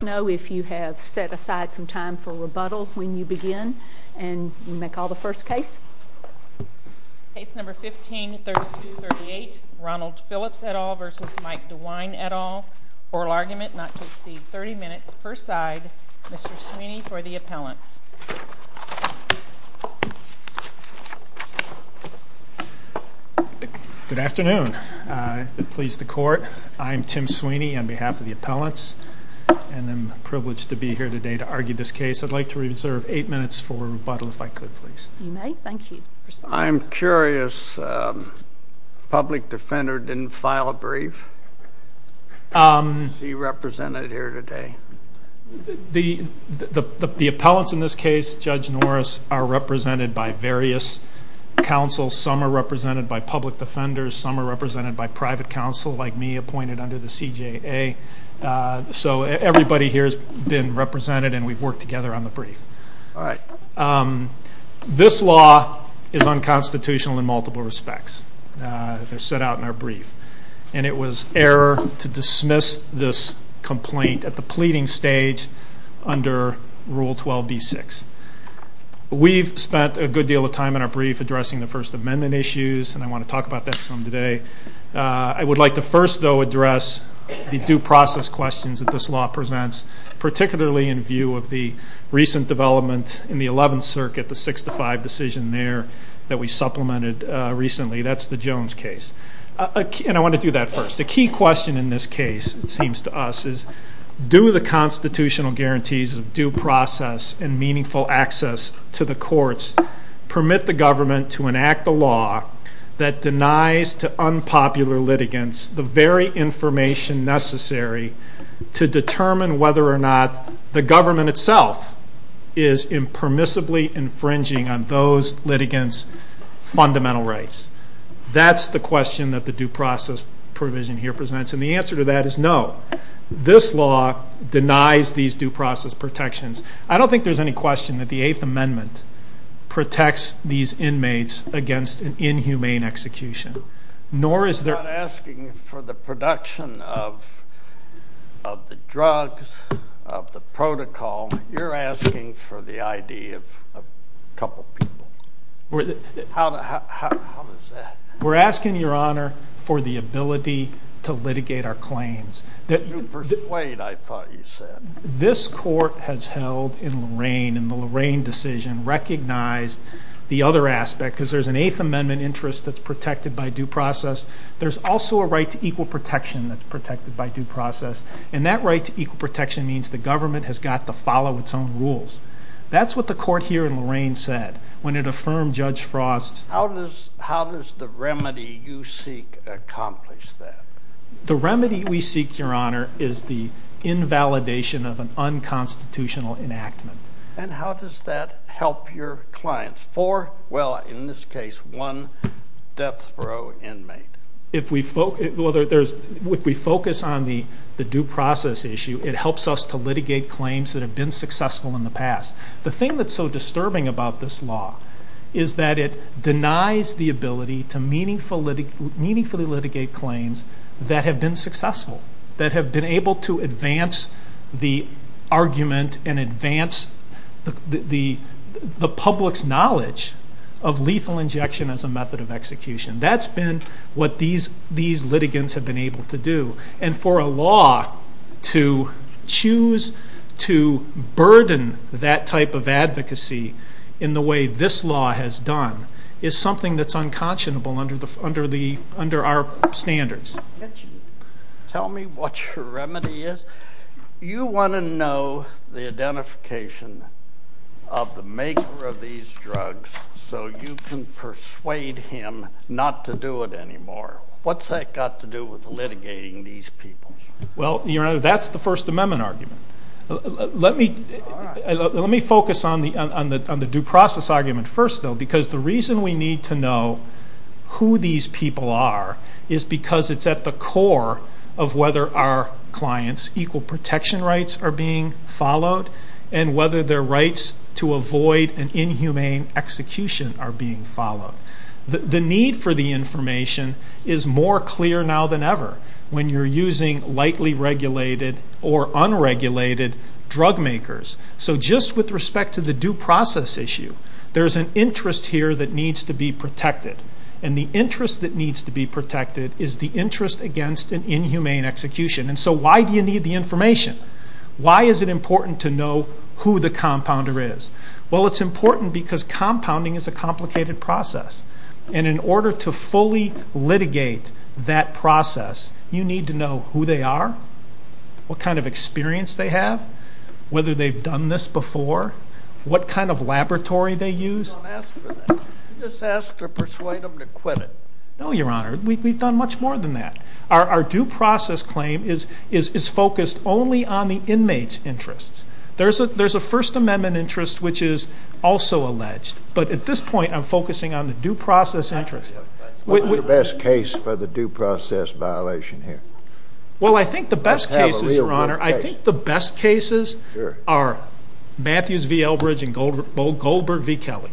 No. If you have set aside some time for rebuttal when you begin and you make all the first case case number 15 32 38 Ronald Phillips at all versus Mike DeWine at all. Oral argument not to exceed 30 minutes per side. Mr Sweeney for the appellants. Good afternoon. Pleased the court. I'm Tim Sweeney on behalf of the appellants and I'm privileged to be here today to argue this case. I'd like to reserve eight minutes for rebuttal if I could, please. You may. Thank you. I'm curious. Public defender didn't file a brief. Um, he represented here today. The appellants in this case, Judge Norris are represented by various counsel. Some are represented by public defenders. Some are represented by private counsel, like me, appointed under the C. J. A. So everybody here has been represented and we've worked together on the brief. All right. Um, this law is unconstitutional in multiple respects. They're set out in our brief, and it was error to dismiss this complaint at the pleading stage under Rule 12 B six. We've spent a good deal of time in our brief addressing the First Amendment issues, and I want to talk about that some today. I would like to first, though, address the due process questions that this law presents, particularly in view of the recent development in the 11th Circuit, the six to five decision there that we supplemented recently. That's the Jones case. And I want to do that first. The key question in this case, it seems to us, is do the constitutional guarantees of due process and meaningful access to the courts permit the government to enact a law that denies to unpopular litigants the very information necessary to determine whether or not the government itself is impermissibly infringing on those litigants' fundamental rights? That's the question that the due process provision here presents, and the answer to that is no. This law denies these due process protections. I don't think there's any question that the Eighth Amendment protects these inmates against an inhumane execution, nor is there... I'm not asking for the production of the drugs, of the protocol. You're asking for the ID of a couple people. How does that... We're asking, Your Honor, for the ability to litigate our claims. You persuade, I thought you said. This court has held in Lorraine, in the Lorraine decision, recognized the other aspect, because there's an Eighth Amendment interest that's protected by due process. There's also a right to equal protection that's protected by due process, and that right to equal protection means the government has got to follow its own rules. That's what the court here in Lorraine said when it said that. The remedy we seek, Your Honor, is the invalidation of an unconstitutional enactment. And how does that help your clients? Four, well, in this case, one death row inmate. If we focus on the due process issue, it helps us to litigate claims that have been successful in the past. The thing that's so disturbing about this law is that it denies the ability to meaningfully litigate claims that have been successful, that have been able to advance the argument and advance the public's knowledge of lethal injection as a method of execution. That's been what these litigants have been able to do. And for a law to choose to burden that type of advocacy in the way this law has done is something that's unconscionable under our standards. Tell me what your remedy is. You wanna know the identification of the maker of these drugs so you can persuade him not to do it anymore. What's that got to do with litigating these people? Well, Your Honor, that's the First Amendment argument. Let me focus on the due process argument first, though, because the reason we need to know who these people are is because it's at the core of whether our clients' equal protection rights are being followed and whether their rights to avoid an inhumane execution are being followed. The need for the information is more clear now than ever when you're using lightly regulated or unregulated drug makers. So just with respect to the due process issue, there's an interest here that needs to be protected. And the interest that needs to be protected is the interest against an inhumane execution. And so why do you need the information? Why is it important to know who the compounder is? Well, it's important because compounding is a complicated process. And in order to fully litigate that process, you need to know who they are, what kind of experience they have, whether they've done this before, what kind of laboratory they use. Don't ask for that. You just ask to persuade them to quit it. No, Your Honor. We've done much more than that. Our due process claim is focused only on the inmate's interests. There's a First Amendment interest which is also alleged. But at this point, I'm focusing on the due process interest. What's the best case for the due process violation here? Well, I think the best cases, Your Honor, I think the best cases are Matthews v. Elbridge and Goldberg v. Kelly,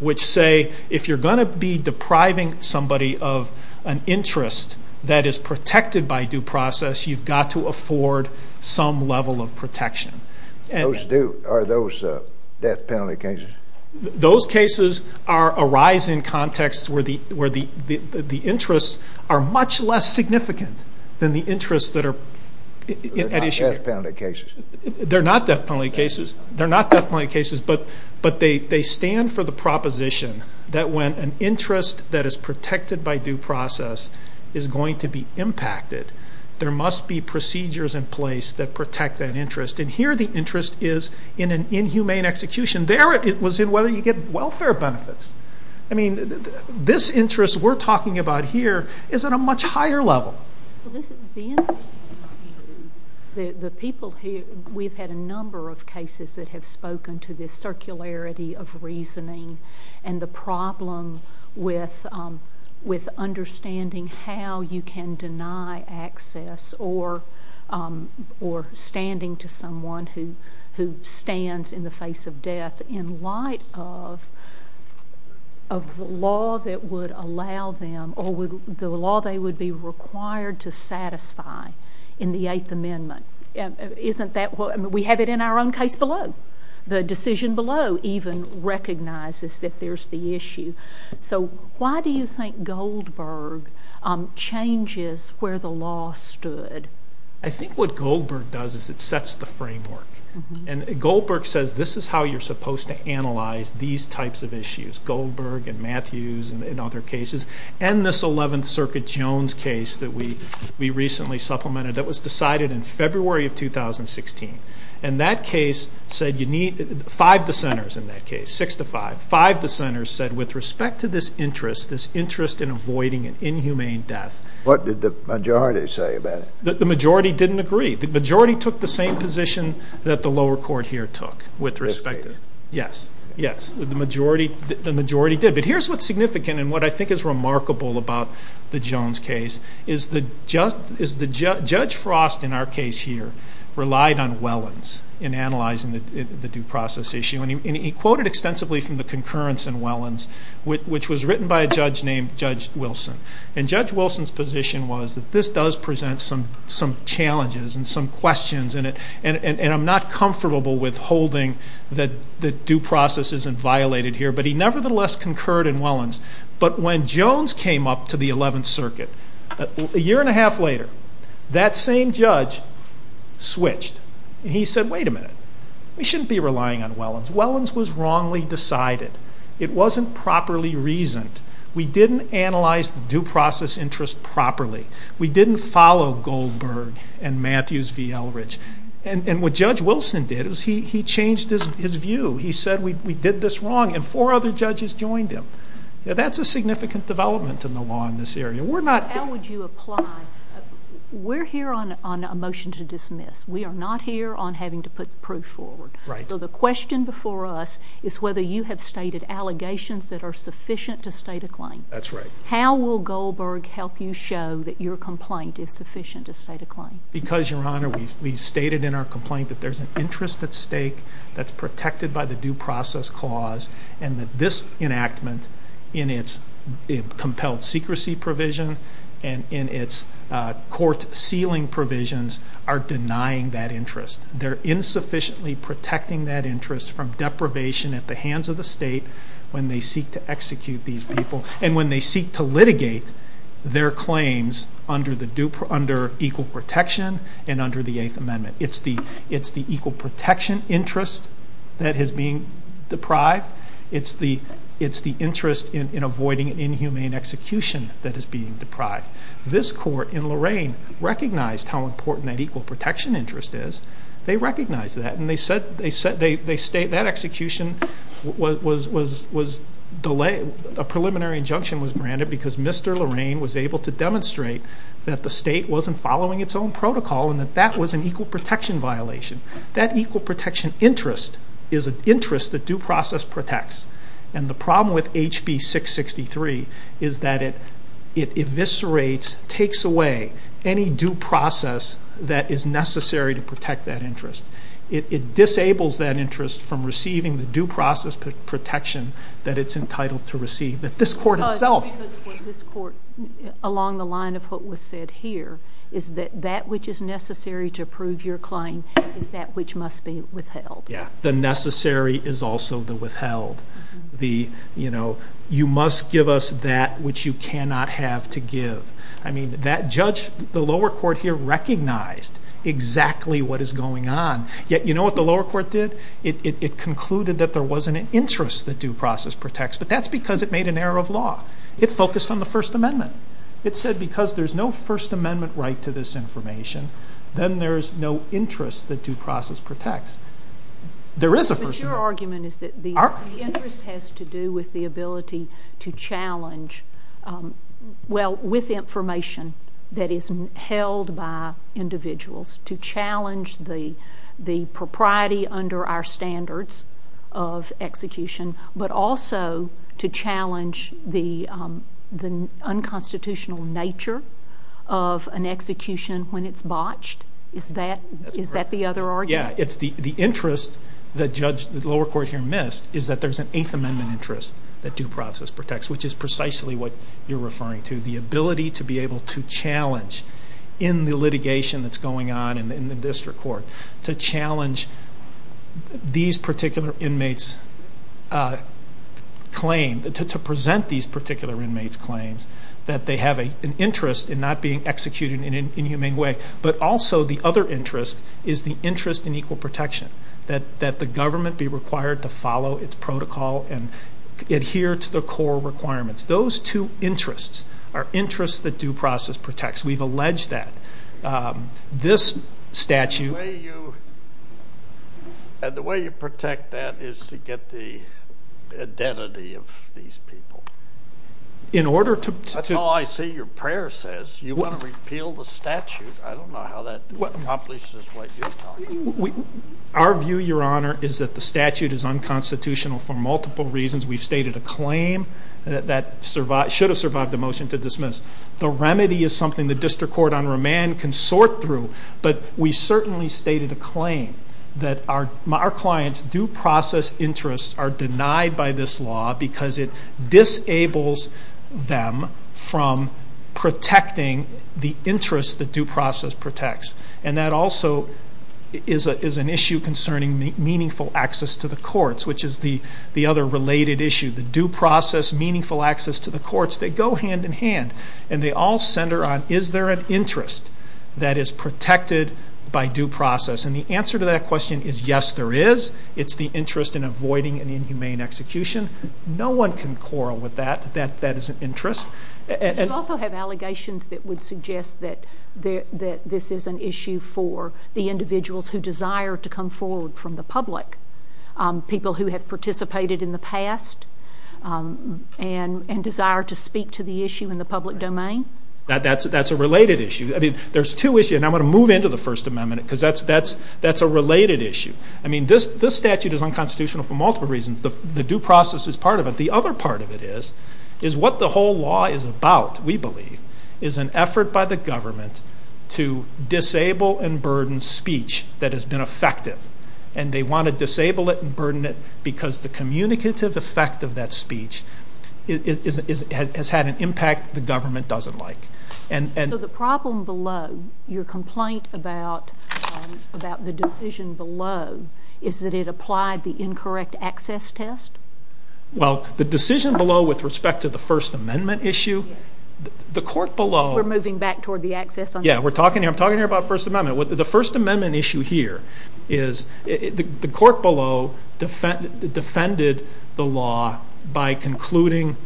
which say if you're gonna be depriving somebody of an interest that is protected by due process, you've got to afford some level of protection. Are those death penalty cases? Those cases arise in contexts where the interests are much less significant than the interests that are at issue. They're not death penalty cases. They're not death penalty cases. They're not death penalty cases, but they stand for the proposition that when an interest that is protected by due process is going to be impacted, there must be procedures in place that protect that interest. And here, the interest is in an inhumane execution. There, it was in whether you get welfare benefits. I mean, this interest we're talking about here is at a much higher level. Well, listen, the interest is in the people who... We've had a number of cases that have spoken to this circularity of reasoning and the problem with understanding how you can deny access or standing to someone who stands in the face of death in light of the law that would allow them or the law they would be required to satisfy in the Eighth Amendment. Isn't that what... We have it in our own case below. The decision below even recognizes that there's the issue. So, why do you think Goldberg changes where the law stood? I think what Goldberg does is it sets the framework. And Goldberg says, this is how you're supposed to analyze these types of issues. Goldberg and Matthews and other cases, and this 11th Circuit Jones case that we recently supplemented that was decided in February of 2016. And that case said you need... Five dissenters in that case, six to five. Five dissenters said, with respect to this interest, this interest in avoiding an inhumane death... What did the majority say about it? The majority didn't agree. The majority took the same position that the lower court here took with respect to it. Yes, yes. The majority did. But here's what's significant and what I think is remarkable about the Jones case, is that Judge Frost, in our case here, relied on Wellens in analyzing the due process issue. And he quoted extensively from the concurrence in Wellens, which was written by a judge named Judge Wilson. And Judge Wilson's position was that this does present some challenges and some questions, and I'm not comfortable with holding that due process isn't violated here. But he nevertheless concurred in Wellens. But when Jones came up to the 11th Circuit, a year and a half later, that same judge switched. He said, Wait a minute. We shouldn't be relying on Wellens. Wellens was wrongly decided. It wasn't properly reasoned. We didn't analyze the due process interest properly. We didn't follow Goldberg and Matthews v. Elridge. And what Judge Wilson did is he changed his view. He said, We did this wrong. And four other judges joined him. That's a significant development in the law in this area. We're not... So how would you apply? We're here on a motion to dismiss. We are not here on having to put proof forward. Right. So the question before us is whether you have stated allegations that are sufficient to state a claim. That's right. How will Goldberg help you show that your complaint is sufficient to state a claim? Because, Your Honor, we've stated in our complaint that there's an interest at stake that's protected by the due process clause, and that this enactment, in its compelled secrecy provision and in its court sealing provisions, are denying that interest. They're insufficiently protecting that interest from deprivation at the hands of the state when they seek to execute these people, and when they seek to under equal protection and under the Eighth Amendment. It's the equal protection interest that is being deprived. It's the interest in avoiding an inhumane execution that is being deprived. This court in Lorain recognized how important that equal protection interest is. They recognized that, and they said... That execution was... A preliminary injunction was granted because Mr. Lorain was able to demonstrate that the state wasn't following its own protocol and that that was an equal protection violation. That equal protection interest is an interest that due process protects. And the problem with HB 663 is that it eviscerates, takes away, any due process that is necessary to protect that interest. It disables that interest from receiving the due process protection that it's entitled to receive. That this court itself... Along the line of what was said here, is that that which is necessary to approve your claim is that which must be withheld. Yeah. The necessary is also the withheld. You must give us that which you cannot have to give. That judge, the lower court here recognized exactly what is going on, yet you know what the lower court did? It concluded that there wasn't an interest that due process protects, but that's because it made an error of law. It focused on the First Amendment. It said because there's no First Amendment right to this information, then there's no interest that due process protects. There is a First Amendment. But your argument is that the interest has to do with the ability to challenge... Well, with information that is held by individuals, to challenge the unconstitutional nature of an execution when it's botched? Is that the other argument? Yeah. The interest that the lower court here missed is that there's an Eighth Amendment interest that due process protects, which is precisely what you're referring to. The ability to be able to challenge in the litigation that's going on in the district court, to challenge these particular inmates' claim, to present these particular inmates' claims that they have an interest in not being executed in an inhumane way. But also, the other interest is the interest in equal protection, that the government be required to follow its protocol and adhere to the core requirements. Those two interests are interests that due process protects. We've alleged that. This statute... The way you protect that is to get the identity of these people. In order to... That's all I see your prayer says. You wanna repeal the statute. I don't know how that accomplishes what you're talking about. Our view, Your Honor, is that the statute is unconstitutional for multiple reasons. We've stated a claim that should have survived the motion to dismiss. The remedy is something the District Court on remand can sort through. But we certainly stated a claim that our client's due process interests are denied by this law because it disables them from protecting the interest that due process protects. And that also is an issue concerning meaningful access to the courts, which is the other related issue. The due process, meaningful access to the courts, they go hand in hand. And they all center on, is there an interest that is protected by due process? And the answer to that question is, yes, there is. It's the interest in avoiding an inhumane execution. No one can quarrel with that, that that is an interest. You also have allegations that would suggest that this is an issue for the individuals who desire to come forward from the public. People who have participated in the past and desire to speak to the issue in the public domain? That's a related issue. There's two issues, and I'm gonna move into the First Amendment, because that's a related issue. This statute is unconstitutional for multiple reasons. The due process is part of it. The other part of it is, is what the whole law is about, we believe, is an effort by the government to disable and burden speech that has been effective. And they wanna disable it and burden it because the communicative effect of that speech has had an impact the government doesn't like. So the problem below your complaint about the decision below is that it applied the incorrect access test? Well, the decision below with respect to the First Amendment issue, the court below... We're moving back toward the access... Yeah, we're talking here... I'm talking here about First Amendment. The First Amendment issue here is... The court below defended the law by concluding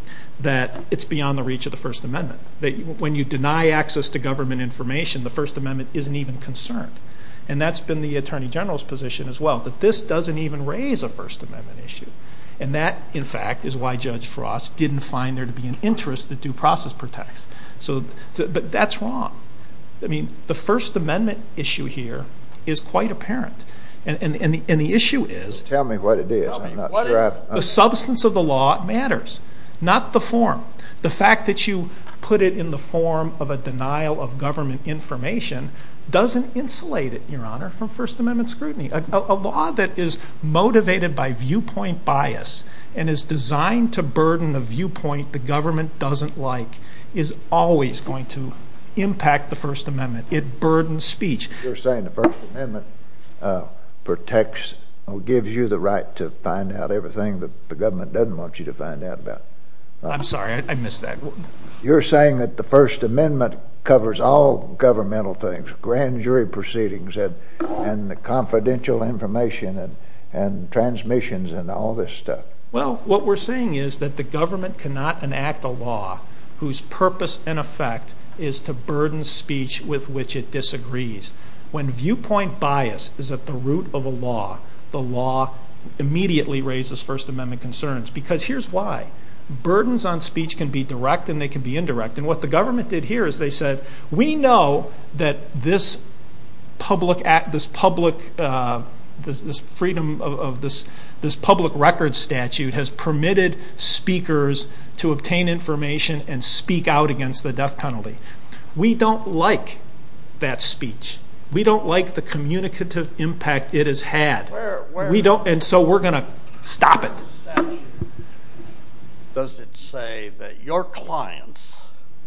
that it's beyond the reach of the First Amendment, that when you deny access to government information, the First Amendment isn't even concerned. And that's been the Attorney General's position as well, that this doesn't even raise a First Amendment issue. And that, in fact, is why Judge Frost didn't find there to be an interest that due process protects. But that's wrong. I mean, the First Amendment issue here is quite apparent. And the issue is... Tell me what it is. I'm not sure I've... The substance of the law matters, not the form. The fact that you put it in the form of a denial of government information doesn't insulate it, Your Honor, from First Amendment scrutiny. A law that is motivated by viewpoint bias and is designed to burden the viewpoint the government doesn't like, is always going to impact the First Amendment. It burdens speech. You're saying the First Amendment protects, gives you the right to find out everything that the government doesn't want you to find out about. I'm sorry, I missed that. You're saying that the First Amendment covers all governmental things, grand jury proceedings and the confidential information and transmissions and all this stuff. Well, what we're saying is that the government cannot enact a law whose purpose and effect is to burden speech with which it disagrees. When viewpoint bias is at the root of a law, the law immediately raises First Amendment concerns. Because here's why. Burdens on speech can be direct and they can be indirect. And what the government did here is they said, we know that this public record statute has permitted speakers to obtain information and speak out against the death penalty. We don't like that speech. We don't like the communicative impact it has had. We don't... And so we're gonna stop it. Does it say that your clients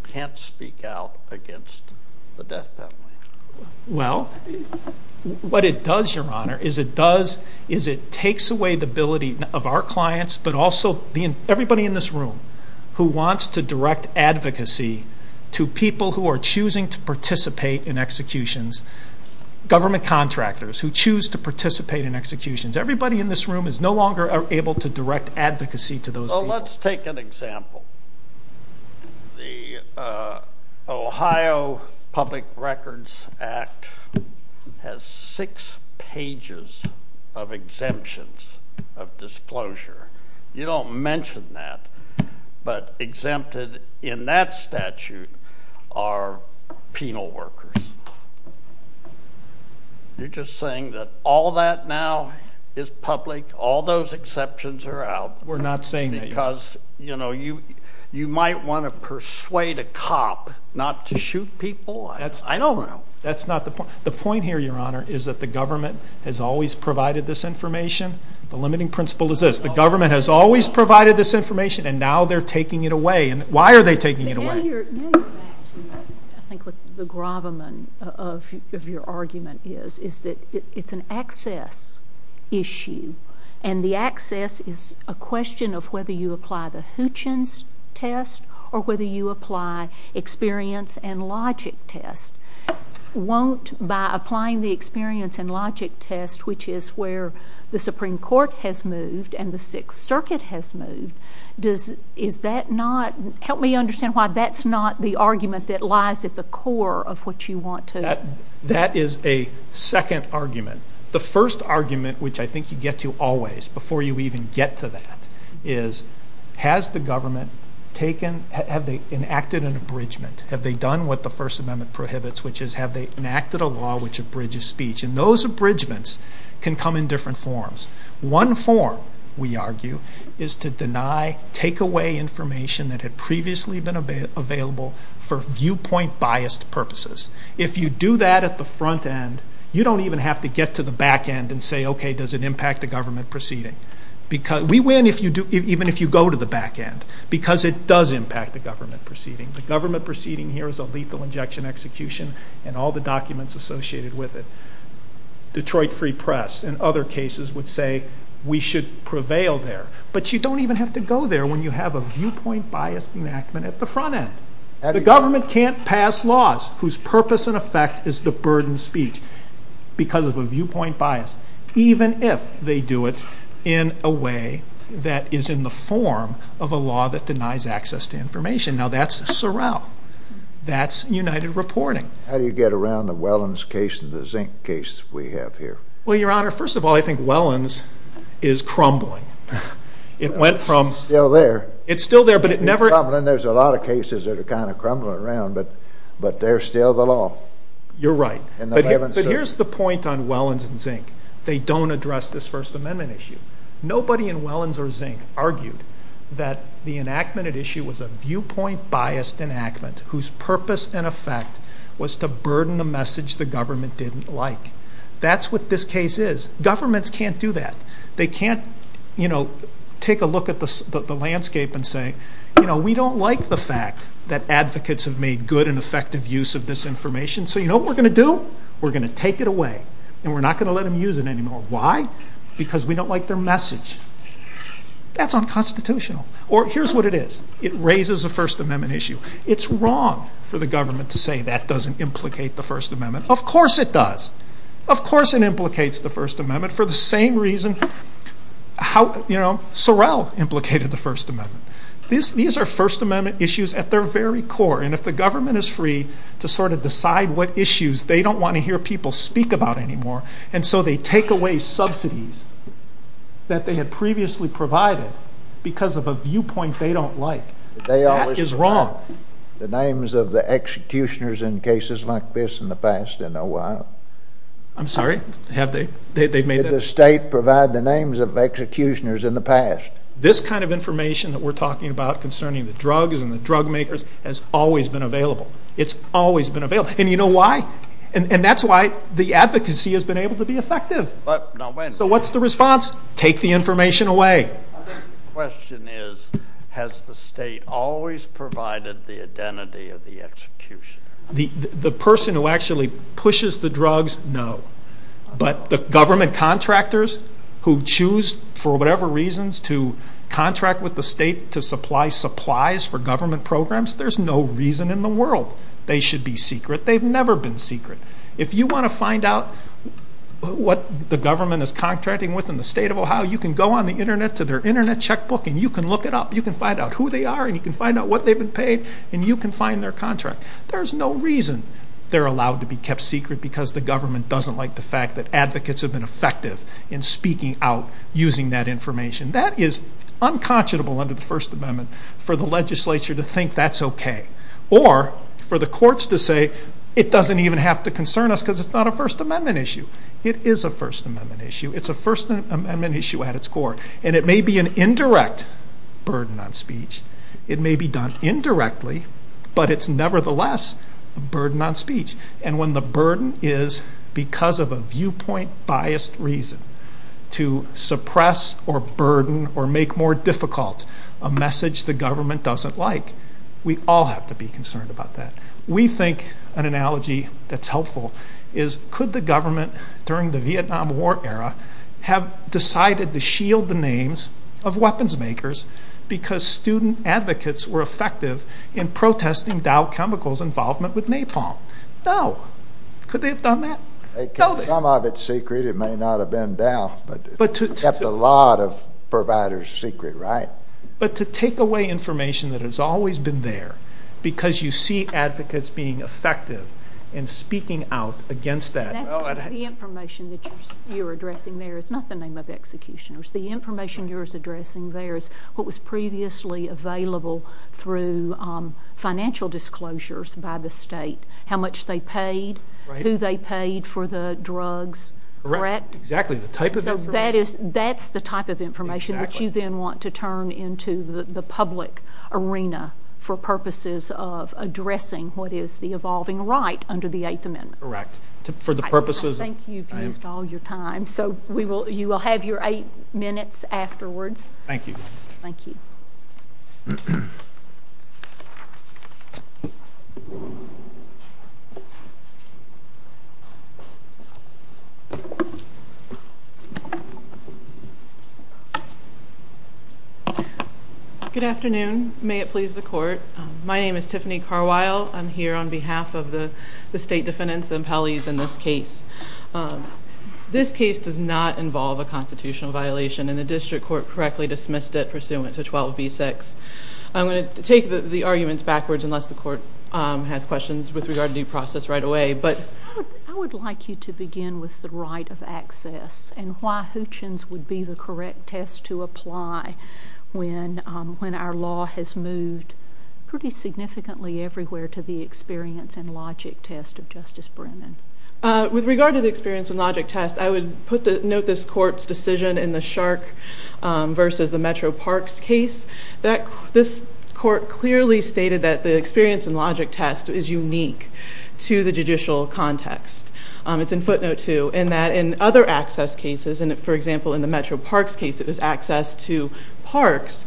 can't speak out against the death penalty? Well, let's take an example. The Ohio Public Records Act has six pages of exemptions of disclosure. You don't mention that, but exempted in that statute are penal workers. You're just saying that all that now is public, all those exceptions are out. We're not saying that. Because you might wanna persuade a cop not to shoot people. I don't know. The point here, Your Honor, is that the government has always provided this information. The limiting principle is this. The government has always provided this information and now they're taking it away. Why are they taking it away? Now you're back to, I think, what the gravamen of your argument is, is that it's an access issue. And the access is a question of whether you apply the Hutchins test or whether you apply experience and logic test. Won't by applying the experience and logic test, which is where the Supreme Court has moved and the Sixth Circuit has moved, is that not... Help me understand why that's not the argument that lies at the core of what you want to... That is a second argument. The first argument, which I think you get to always, before you even get to that, is has the government taken... Have they enacted an abridgement? Have they done what the First Amendment prohibits, which is have they enacted a law which abridges speech? And those abridgements can come in different forms. One form, we argue, is to deny, take away information that had previously been available for viewpoint biased purposes. If you do that at the front end, you don't even have to get to the back end and say, okay, does it impact the government proceeding? We win even if you go to the back end because it does impact the government proceeding. The government proceeding here is a lethal injection execution and all the documents associated with it. Detroit Free Press, in other cases, would say we should prevail there, but you don't even have to go there when you have a viewpoint biased enactment at the front end. The government can't pass laws whose purpose and effect is to burden speech because of a viewpoint bias, even if they denies access to information. Now, that's Sorrel. That's United Reporting. How do you get around the Wellens case and the Zink case we have here? Well, Your Honor, first of all, I think Wellens is crumbling. It went from... It's still there. It's still there, but it never... It's crumbling. There's a lot of cases that are crumbling around, but they're still the law. You're right. But here's the point on Wellens and Zink. They don't address this First Amendment issue. Nobody in Wellens or Zink argued that the enactment at issue was a viewpoint biased enactment whose purpose and effect was to burden the message the government didn't like. That's what this case is. Governments can't do that. They can't take a look at the landscape and say, we don't like the fact that advocates have made good and effective use of this information, so you know what we're gonna do? We're gonna take it away, and we're not gonna let them use it anymore. Why? Because we don't like their message. That's unconstitutional. Or here's what it is. It raises a First Amendment issue. It's wrong for the government to say that doesn't implicate the First Amendment. Of course it does. Of course it implicates the First Amendment for the same reason Sorrell implicated the First Amendment. These are First Amendment issues at their very core, and if the government is free to sort of decide what issues they don't wanna hear people speak about anymore, and so they take away subsidies that they had previously provided because of a viewpoint they don't like, that is wrong. They always provide the names of the executioners in cases like this in the past, in a while. I'm sorry? Have they? They've made that... Did the state provide the names of executioners in the past? This kind of information that we're talking about concerning the drugs and the drug makers has always been available. It's always been available. And you know why? And that's why the advocacy has been able to be effective. So what's the response? Take the information away. Question is, has the state always provided the identity of the executioner? The person who actually pushes the drugs, no. But the government contractors who choose, for whatever reasons, to contract with the state to supply supplies for government programs, there's no reason in the world they should be secret. They've never been secret. If you wanna find out what the government is contracting with in the state of Ohio, you can go on the internet to their internet checkbook, and you can look it up. You can find out who they are, and you can find out what they've been paid, and you can find their contract. There's no reason they're allowed to be kept secret because the government doesn't like the fact that advocates have been effective in speaking out using that information. That is unconscionable under the First Amendment for the legislature to think that's okay, or for the courts to say, it doesn't even have to concern us because it's not a First Amendment issue. It is a First Amendment issue. It's a First Amendment issue at its core, and it may be an indirect burden on speech. It may be done indirectly, but it's nevertheless a burden on speech. And when the burden is because of a viewpoint biased reason to suppress or burden or make more difficult a message the government doesn't like, we all have to be concerned about that. We think an analogy that's helpful is, could the government during the Vietnam War era have decided to shield the names of weapons makers because student advocates were effective in protesting Dow Chemical's involvement with napalm? No. Could they have done that? Some of it's secret. It may not have been Dow, but it kept a lot of providers secret, right? But to take away information that has always been there because you see advocates being effective in speaking out against that... The information that you're addressing there is not the name of executioners. The information you're addressing there is what was previously available through financial disclosures by the state, how much they paid, who they paid for the drugs, correct? Correct. Exactly. The type of information... That's the type of information that you then want to turn into the public arena for purposes of addressing what is the evolving right under the Eighth Amendment. Correct. For the purposes... I think you've used all your time. So you will have your eight minutes afterwards. Thank you. Thank you. Good afternoon. May it please the court. My name is Tiffany Carwile. I'm here on behalf of the state defendants, the impellees in this case. This case does not involve a constitutional violation and the district court correctly dismissed it pursuant to 12B6. I'm gonna take the arguments backwards unless the court has questions with regard to due process right away, but... I would like you to begin with the right of access and why Hootchins would be the correct test to apply when our law has moved pretty significantly everywhere to the experience and logic test of Justice Brennan. With regard to the experience and logic test, I would note this court's decision in the Shark versus the Metro Parks case that this court clearly stated that the experience and logic test is unique to the judicial context. It's in footnote two in that in other access cases, and for example, in the Metro Parks case, it was access to parks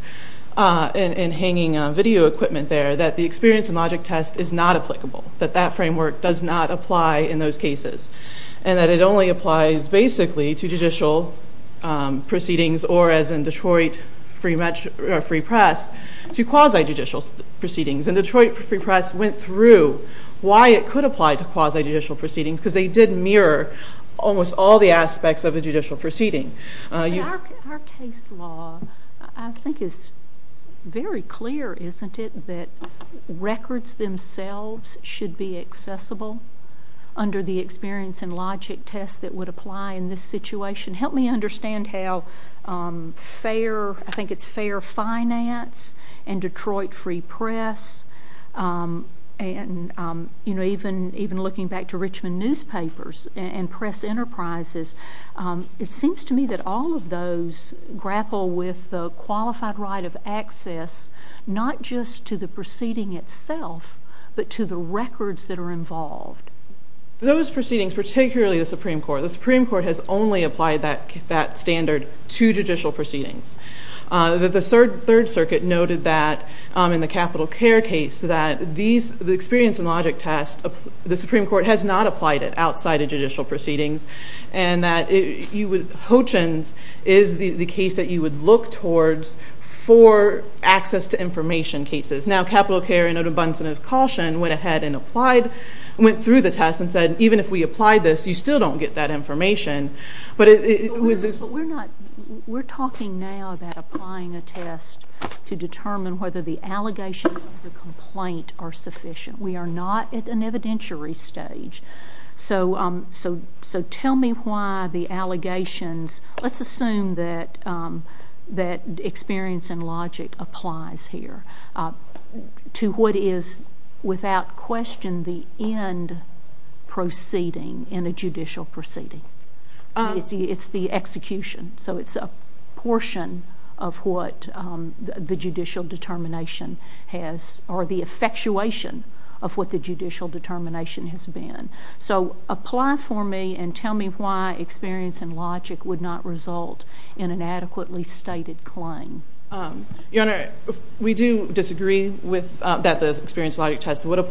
and hanging video equipment there, that the experience and logic test is not applicable, that that framework does not apply in those cases, and that it only applies basically to judicial proceedings or as in Detroit Free Press to quasi judicial proceedings. And Detroit Free Press went through why it could apply to quasi judicial all the aspects of a judicial proceeding. Our case law, I think, is very clear, isn't it, that records themselves should be accessible under the experience and logic test that would apply in this situation. Help me understand how fair, I think it's fair finance and Detroit Free Press, and even looking back to Richmond newspapers and press enterprises, it seems to me that all of those grapple with the qualified right of access, not just to the proceeding itself, but to the records that are involved. Those proceedings, particularly the Supreme Court, the Supreme Court has only applied that standard to judicial proceedings. The Third Circuit noted that in the Capital Care case that the experience and logic test, the Supreme Court has not applied it outside of judicial proceedings, and that Hoechlin's is the case that you would look towards for access to information cases. Now, Capital Care, in Odom Bunson's caution, went ahead and applied, went through the test and said, even if we apply this, you still don't get that information. But it was... We're talking now about applying a test to determine whether the allegations of the complaint are sufficient. We are not at an evidentiary stage. So tell me why the allegations... Let's assume that experience and logic applies here to what is, without question, the end proceeding in a judicial proceeding. It's the execution. So it's a portion of what the judicial determination has, or the effectuation of what the judicial determination has been. So apply for me and tell me why experience and logic would not result in an adequately stated claim. Your Honor, we do disagree with that the experience and logic test would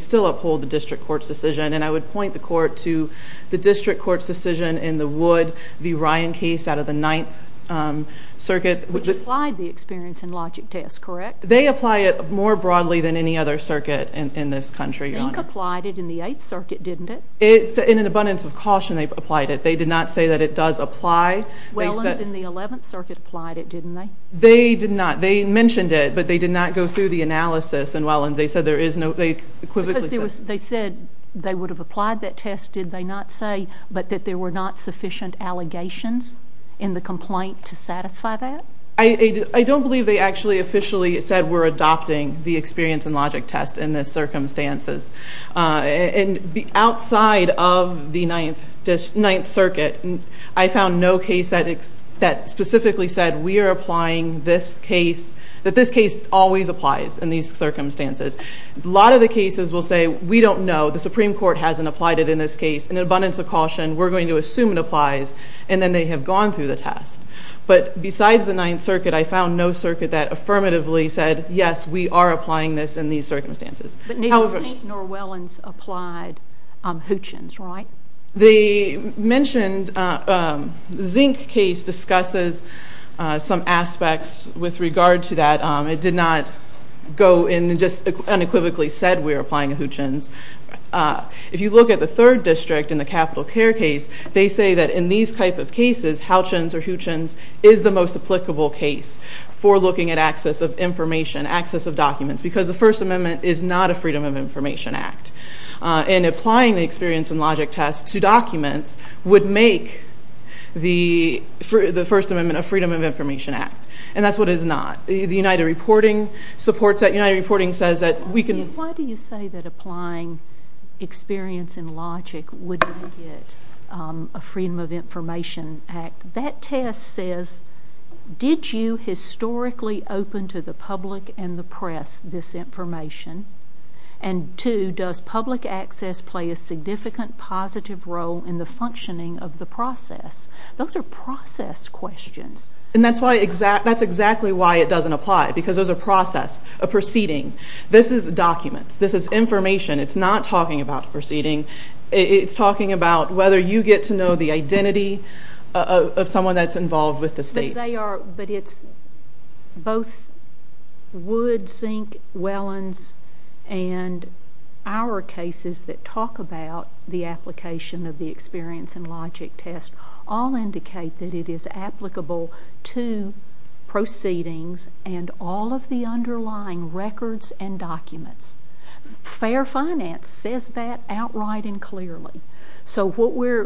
still uphold the district court's decision, and I would point the court to the district court's decision in the Wood v. Ryan case out of the Ninth Circuit. Which applied the experience and logic test, correct? They apply it more broadly than any other circuit in this country, Your Honor. Zink applied it in the Eighth Circuit, didn't it? In an abundance of caution, they applied it. They did not say that it does apply. Wellens in the Eleventh Circuit applied it, didn't they? They did not. They mentioned it, but they did not go through the analysis, and Wellens, they said there is no... They equivocally said... Because they said they would have applied that test, did they not say, but that there were not sufficient allegations in the complaint to satisfy that? I don't believe they actually officially said we're adopting the experience and logic test in this circumstances. And outside of the Ninth Circuit, I found no case that specifically said we are applying this case, that this case always applies in these circumstances. A lot of the cases will say, we don't know, the Supreme Court hasn't applied it in this case. In an abundance of caution, we're going to assume it applies, and then they have gone through the test. But besides the Ninth Circuit, I found no circuit that affirmatively said, yes, we are applying this in these circumstances. But neither Zink nor Wellens applied Hutchins, right? They mentioned... The Zink case discusses some aspects with regard to that. It did not go in and just unequivocally said we are applying Hutchins. If you look at the third district in the capital care case, they say that in these type of cases, Hutchins or Hutchins is the most applicable case for looking at access of information, access of documents, because the First Amendment is not a Freedom of Information Act. And applying the experience and logic test to documents would make the First Amendment a Freedom of Information Act, and that's what it is not. The United Reporting supports that. United Reporting says that we can... Why do you say that applying experience and logic would make it a Freedom of Information Act? That test says, did you historically open to the public and the press this information? And two, does public access play a significant positive role in the functioning of the process? Those are process questions. And that's why... That's exactly why it doesn't apply, because there's a process, a proceeding. This is documents, this is information. It's not talking about a proceeding. It's talking about whether you get to know the identity of someone that's involved with the state. But they are... But it's both Wood, Zink, Wellens, and our cases that talk about the application of the experience and logic test all indicate that it is applicable to proceedings and all of the underlying records and documents. Fair Finance says that outright and clearly. So what we're...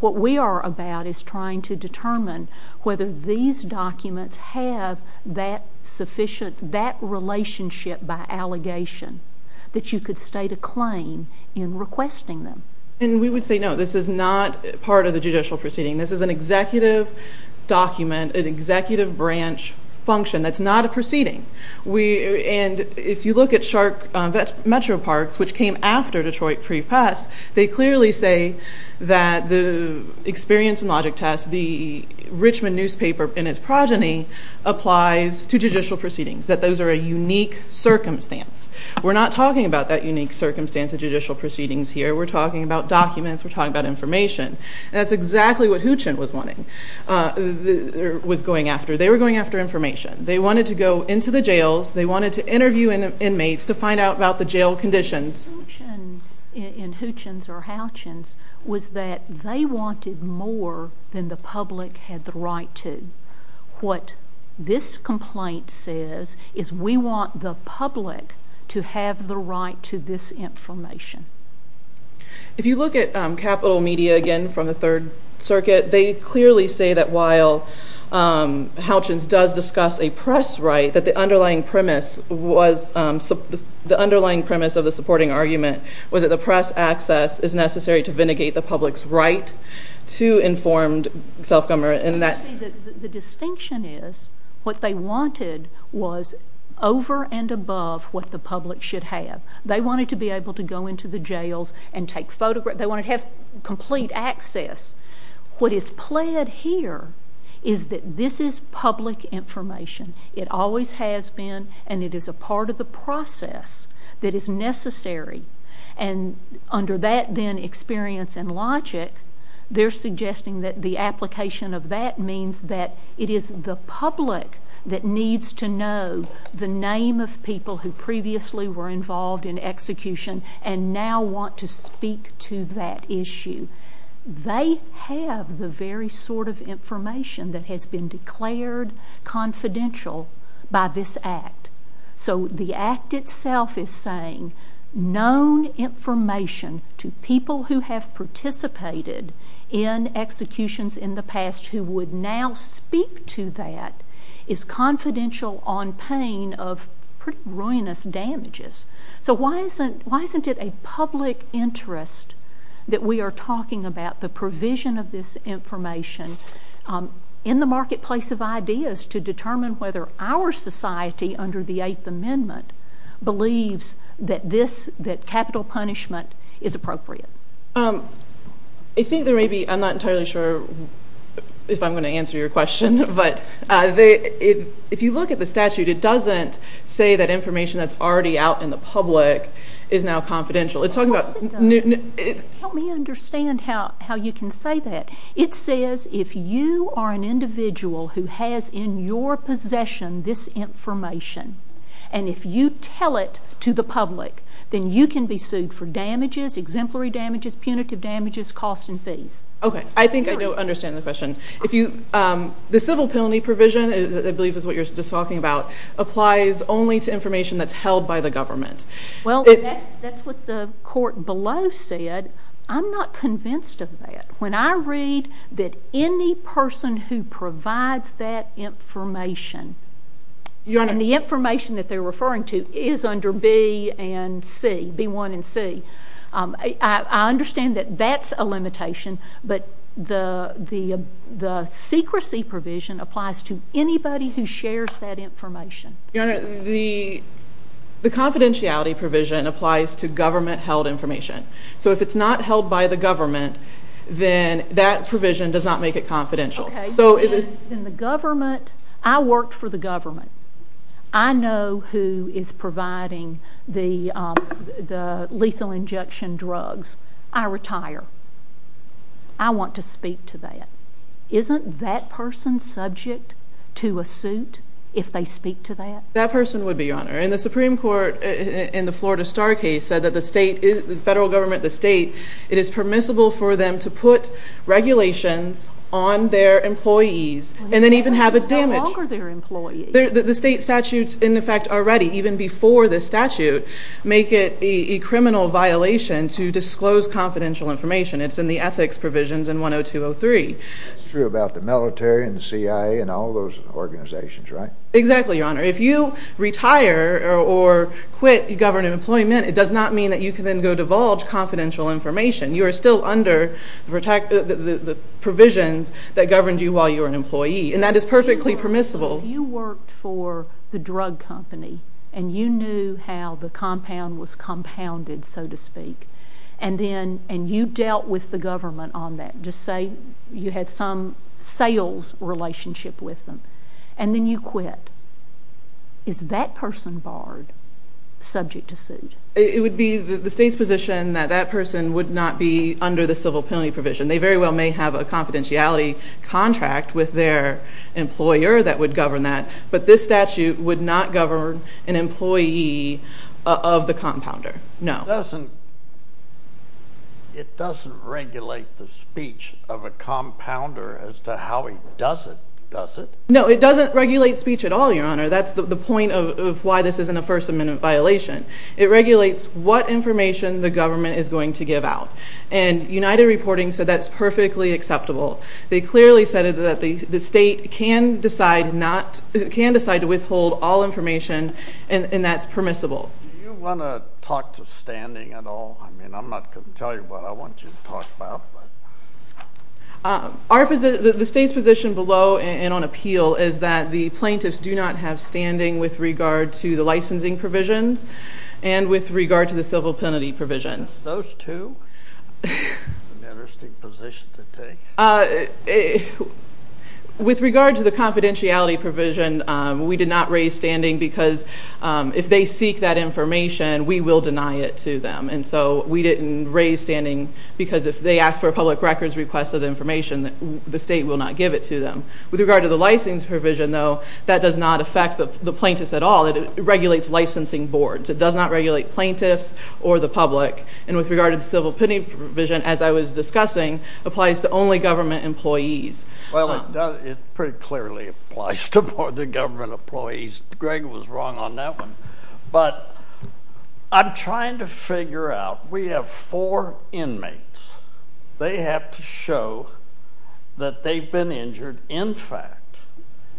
What we are about is trying to determine whether these documents have that sufficient... That relationship by allegation that you could state a claim in requesting them. And we would say, no, this is not part of the judicial proceeding. This is an executive document, an executive branch function. That's not a proceeding. And if you look at Shark Metro Parks, which came after Detroit pre pass, they clearly say that the experience and logic test, the Richmond newspaper and its progeny, applies to judicial proceedings, that those are a unique circumstance. We're not talking about that unique circumstance of judicial proceedings here. We're talking about documents. We're talking about information. That's exactly what Hootchin was wanting... Was going after. They were going after information. They wanted to go into the jails. They wanted to interview inmates to find out about the jail conditions. The assumption in Hootchin's or Houchin's was that they wanted more than the public had the right to. What this complaint says is we want the public to have the right to this information. If you look at Capital Media, again, from the Third Circuit, they clearly say that while Houchin's does discuss a press right, that the underlying premise was... The underlying premise of the supporting argument was that the press access is necessary to vindicate the public's right to informed self government. And that... You see, the distinction is what they wanted was over and above what the public should have. They wanted to be able to go into the jails and take photographs. They wanted to have complete access. What is pled here is that this is public information. It always has been, and it is a part of the process that is necessary. And under that then experience and logic, they're suggesting that the application of that means that it is the public that needs to know the name of people who previously were involved in execution and now want to speak to that issue. They have the very sort of information that has been declared confidential by this act. So the act itself is saying known information to people who have participated in executions in the past who would now speak to that is confidential on pain of pretty ruinous damages. So why isn't it a public interest that we are talking about the provision of this information in the marketplace of ideas to determine whether our society under the Eighth Amendment believes that this... That capital punishment is appropriate? I think there may be... I'm not entirely sure if I'm gonna answer your question. But if you look at the statute, it doesn't say that information that's already out in the public is now confidential. It's talking about... Of course it does. Help me understand how you can say that. It says if you are an individual who has in your possession this information, and if you tell it to the public, then you can be sued for damages, exemplary damages, punitive damages, costs and fees. Okay. I think I understand the question. The civil penalty provision, I believe is what you're just talking about, applies only to information that's held by the government. Well, that's what the court below said. I'm not convinced of that. When I read that any person who provides that information... Your Honor... And the information that they're referring to is under B and C, B1 and C. I understand that that's a limitation, but the secrecy provision applies to anybody who shares that information. Your Honor, the confidentiality provision applies to government held information. So if it's not held by the government, then that provision does not make it confidential. Okay. Then the government... I worked for the government. I know who is providing the lethal injection drugs. I retire. I want to speak to that. Isn't that person subject to a suit if they speak to that? That person would be, Your Honor. And the Supreme Court in the Florida Star case said that the state, the federal government, the state, it is permissible for them to put regulations on their employees and then even have a damage. How long are their employees? The state statutes, in effect, already, even before the statute, make it a criminal violation to disclose confidential information. It's in the ethics provisions in 102.03. It's true about the military and the CIA and all those organizations, right? Exactly, Your Honor. If you retire or quit government employment, it does not mean that you can then go divulge confidential information. You are still under the provisions that governed you while you were an employee of the drug company, and you knew how the compound was compounded, so to speak, and you dealt with the government on that. Just say you had some sales relationship with them, and then you quit. Is that person barred, subject to suit? It would be the state's position that that person would not be under the civil penalty provision. They very well may have a confidentiality contract with their employer that would govern that, but this statute would not govern an employee of the compounder. No. It doesn't regulate the speech of a compounder as to how he does it, does it? No, it doesn't regulate speech at all, Your Honor. That's the point of why this isn't a First Amendment violation. It regulates what information the government is going to give out. And United Reporting said that's perfectly acceptable. They clearly said that the state can decide to withhold all information, and that's permissible. Do you wanna talk to standing at all? I'm not gonna tell you what I want you to talk about. The state's position below and on appeal is that the plaintiffs do not have standing with regard to the licensing provisions and with regard to the civil penalty provisions. Those two? That's an interesting position to take. With regard to the confidentiality provision, we did not raise standing because if they seek that information, we will deny it to them. And so we didn't raise standing because if they ask for a public records request of information, the state will not give it to them. With regard to the license provision, though, that does not affect the plaintiffs at all. It regulates licensing boards. It does not regulate plaintiffs or the public. And with regard to the civil penalty provision, as I was discussing, applies to only government employees. Well, it pretty clearly applies to more than government employees. Greg was wrong on that one. But I'm trying to figure out, we have four inmates. They have to show that they've been injured, in fact.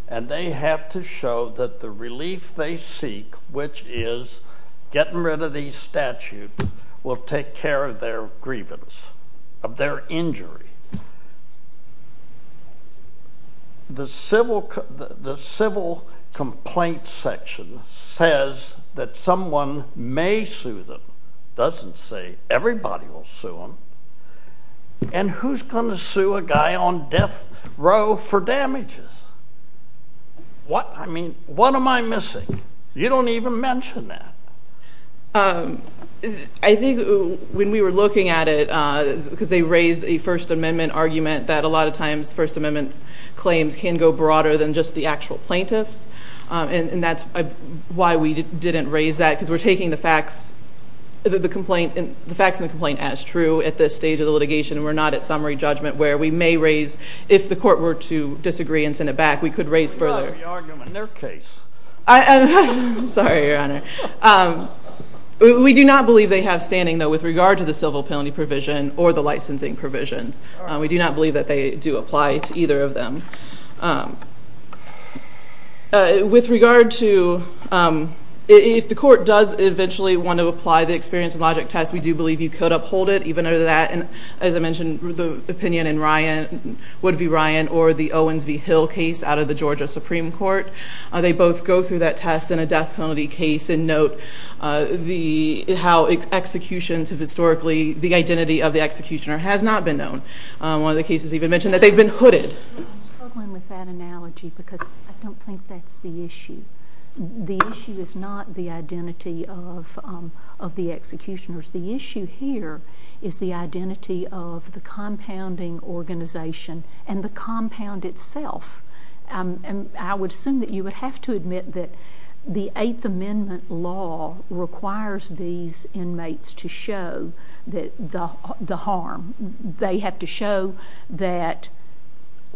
And they have to show that the relief they seek, which is getting rid of these statutes, will take care of their grievance, of their injury. The civil complaint section says that someone may sue them. It doesn't say everybody will sue them. And who's gonna sue a guy on death row for damages? What? I mean, what am I missing? You don't even mention that. I think when we were looking at it, because they raised a First Amendment argument that a lot of times First Amendment claims can go broader than just the actual plaintiffs, and that's why we didn't raise that, because we're taking the facts and the complaint as true at this stage of the litigation, and we're not at summary judgment where we may raise, if the court were to disagree and send it back, we could raise further. You're arguing their case. Sorry, Your Honor. We do not believe they have standing, though, with regard to the civil penalty provision or the licensing provisions. We do not believe that they do apply to either of them. With regard to... If the court does eventually want to apply the experience and logic test, we do believe you could uphold it, even under that. And as I mentioned, the opinion in Ryan, would it be Ryan or the Owens v. Hill case out of the Georgia Supreme Court? They both go through that test in a death penalty case, and note how executions have historically... The identity of the executioner has not been known. One of the cases even mentioned that they've been hooded. I'm struggling with that analogy, because I don't think that's the issue. The issue is not the identity of the executioners. The issue here is the identity of the compounding organization and the compound itself. I would assume that you would have to admit that the Eighth Amendment law requires these inmates to show the harm. They have to show that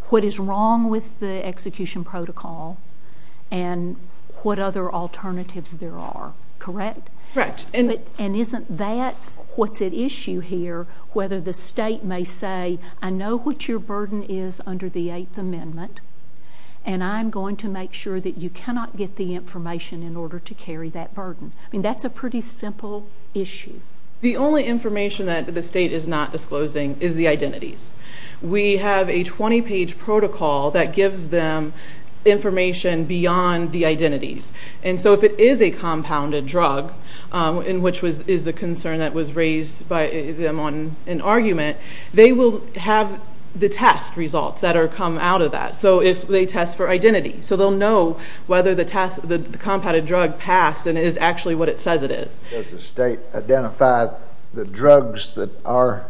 what is wrong with the execution protocol and what other alternatives there are, correct? Correct. And isn't that what's at issue here, whether the state may say, I know what your burden is under the Eighth Amendment, and I'm going to make sure that you cannot get the information in order to carry that burden. That's a pretty simple issue. The only information that the state is not disclosing is the identities. We have a 20 page protocol that gives them information beyond the identities. And so if it is a compounded drug, in which is the concern that was raised by them on an argument, they will have the test results that are come out of that. So if they test for identity, so they'll know whether the compounded drug passed and is actually what it says it is. Does the state identify the drugs that are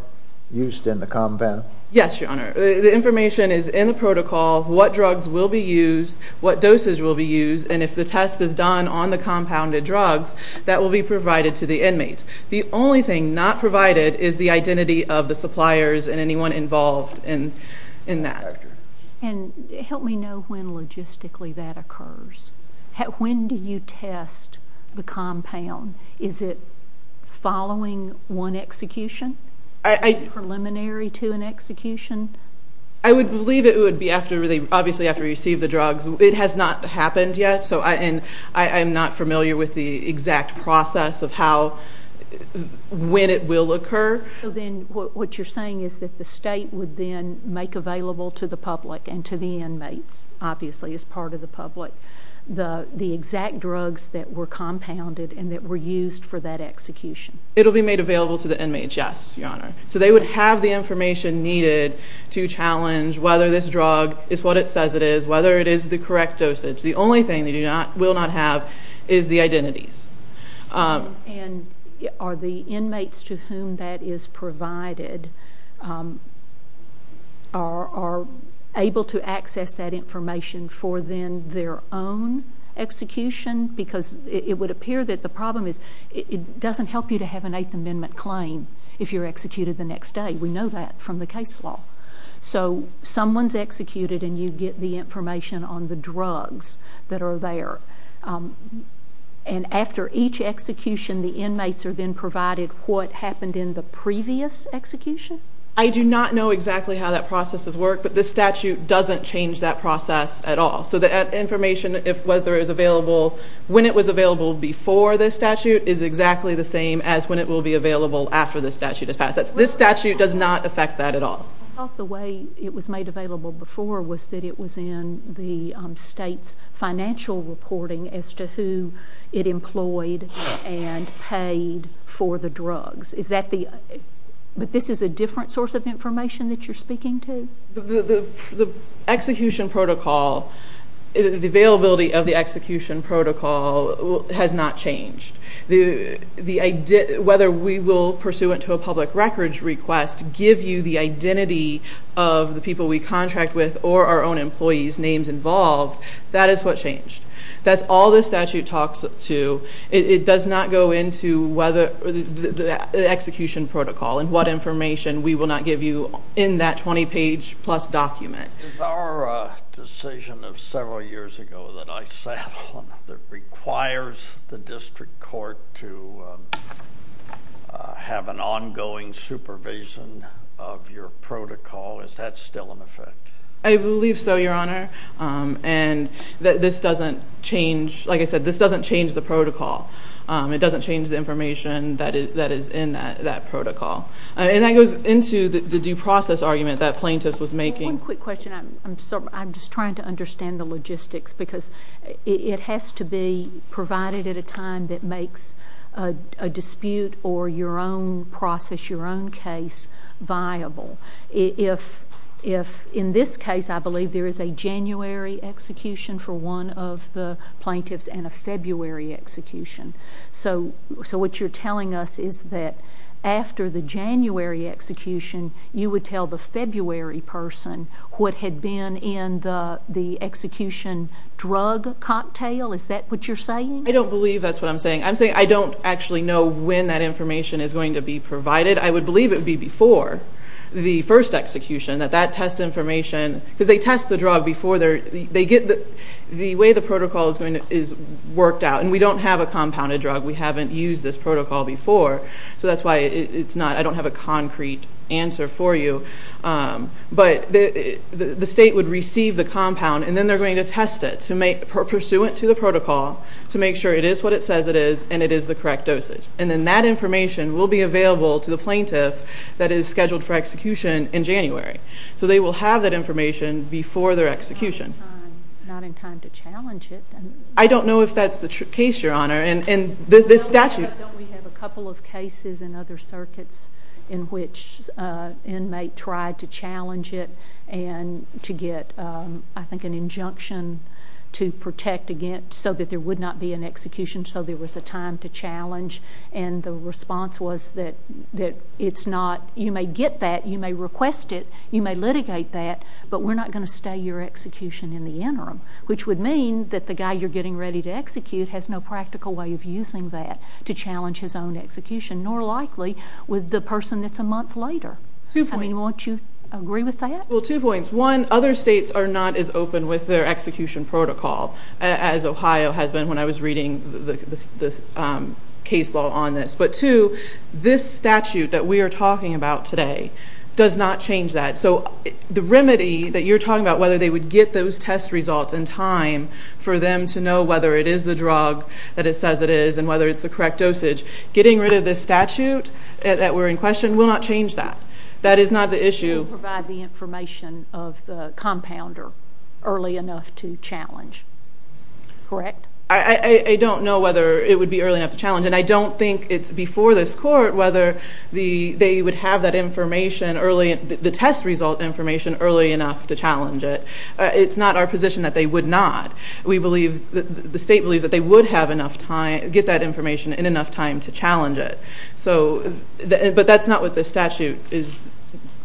used in the compound? Yes, Your Honor. The information is in the protocol, what drugs will be used, what doses will be used, and if the test is done on the compounded drugs, that will be provided to the inmates. The only thing not provided is the identity of the suppliers and anyone involved in that. And help me know when logistically that occurs. When do you test the compound? Is it following one execution? Preliminary to an execution? I would believe it would be after they obviously have to receive the drugs. It has not happened yet and I am not familiar with the exact process of how, when it will occur. So then what you're saying is that the state would then make available to the public and to the inmates, obviously, as part of the public, the exact drugs that were compounded and that were used for that execution? It'll be made available to the inmates, yes, Your Honor. So they would have the information needed to challenge whether this drug is what it says it is, whether it is the correct dosage. The only thing they do not, will not have is the identities. And are the inmates to whom that is provided are able to access that information for then their own execution? Because it would appear that the problem is it doesn't help you to have an Eighth Amendment claim if you're executed the next day. We know that from the case law. So someone's executed and you get the information on the drugs that are there. And after each execution, the inmates are then provided what happened in the previous execution? I do not know exactly how that processes work, but the statute doesn't change that process at all. So the information, whether it was available when it was available before the statute, is exactly the same as when it will be available after the statute has passed. This statute does not affect that at all. I thought the way it was made available before was that it was in the state's financial reporting as to who it employed and paid for the drugs. Is that the... But this is a different source of information that you're speaking to? The execution protocol, the availability of the execution protocol has not changed. Whether we will pursue it to a public records request, give you the identity of the people we contract with or our own employees' names involved, that is what changed. That's all the statute talks to. It does not go into whether the execution protocol and what information we will not change. The provision of several years ago that I sat on that requires the district court to have an ongoing supervision of your protocol, is that still in effect? I believe so, Your Honor. And this doesn't change... Like I said, this doesn't change the protocol. It doesn't change the information that is in that protocol. And that goes into the due process argument that plaintiff was making. One quick question. I'm just trying to understand the logistics, because it has to be provided at a time that makes a dispute or your own process, your own case, viable. In this case, I believe there is a January execution for one of the plaintiffs and a February execution. So what you're telling us is that after the January execution, you would tell the February person what had been in the execution drug cocktail? Is that what you're saying? I don't believe that's what I'm saying. I'm saying I don't actually know when that information is going to be provided. I would believe it would be before the first execution, that that test information... Because they test the drug before they get... The way the protocol is worked out, and we don't have a compounded drug. We haven't used this protocol before, so that's why it's not... I don't have a concrete answer for you. But the state would receive the compound, and then they're going to test it pursuant to the protocol to make sure it is what it says it is, and it is the correct dosage. And then that information will be available to the plaintiff that is scheduled for execution in January. So they will have that information before their execution. Not in time to challenge it. I don't know if that's the case, Your Honor. And this statute... Don't we have a couple of cases in other circuits in which an inmate tried to challenge it and to get, I think, an injunction to protect against... So that there would not be an execution, so there was a time to challenge. And the response was that it's not... You may get that, you may request it, you may litigate that, but we're not gonna stay your execution in the interim. Which would mean that the guy you're getting ready to execute has no practical way of using that to challenge his own execution, nor likely with the person that's a month later. I mean, won't you agree with that? Well, two points. One, other states are not as open with their execution protocol as Ohio has been when I was reading the case law on this. But two, this statute that we are talking about today does not change that. So the remedy that you're talking about, whether they would get those test results in time for them to know whether it is the drug that it says it is and whether it's the correct dosage, getting rid of this statute that we're in question will not change that. That is not the issue. It will provide the information of the compounder early enough to challenge. Correct? I don't know whether it would be early enough to challenge. And I don't think it's before this court whether they would have that information early, the test result information early enough to challenge it. It's not our position that they would not. We believe, the state believes that they would have enough time, get that information in enough time to challenge it. But that's not what this statute is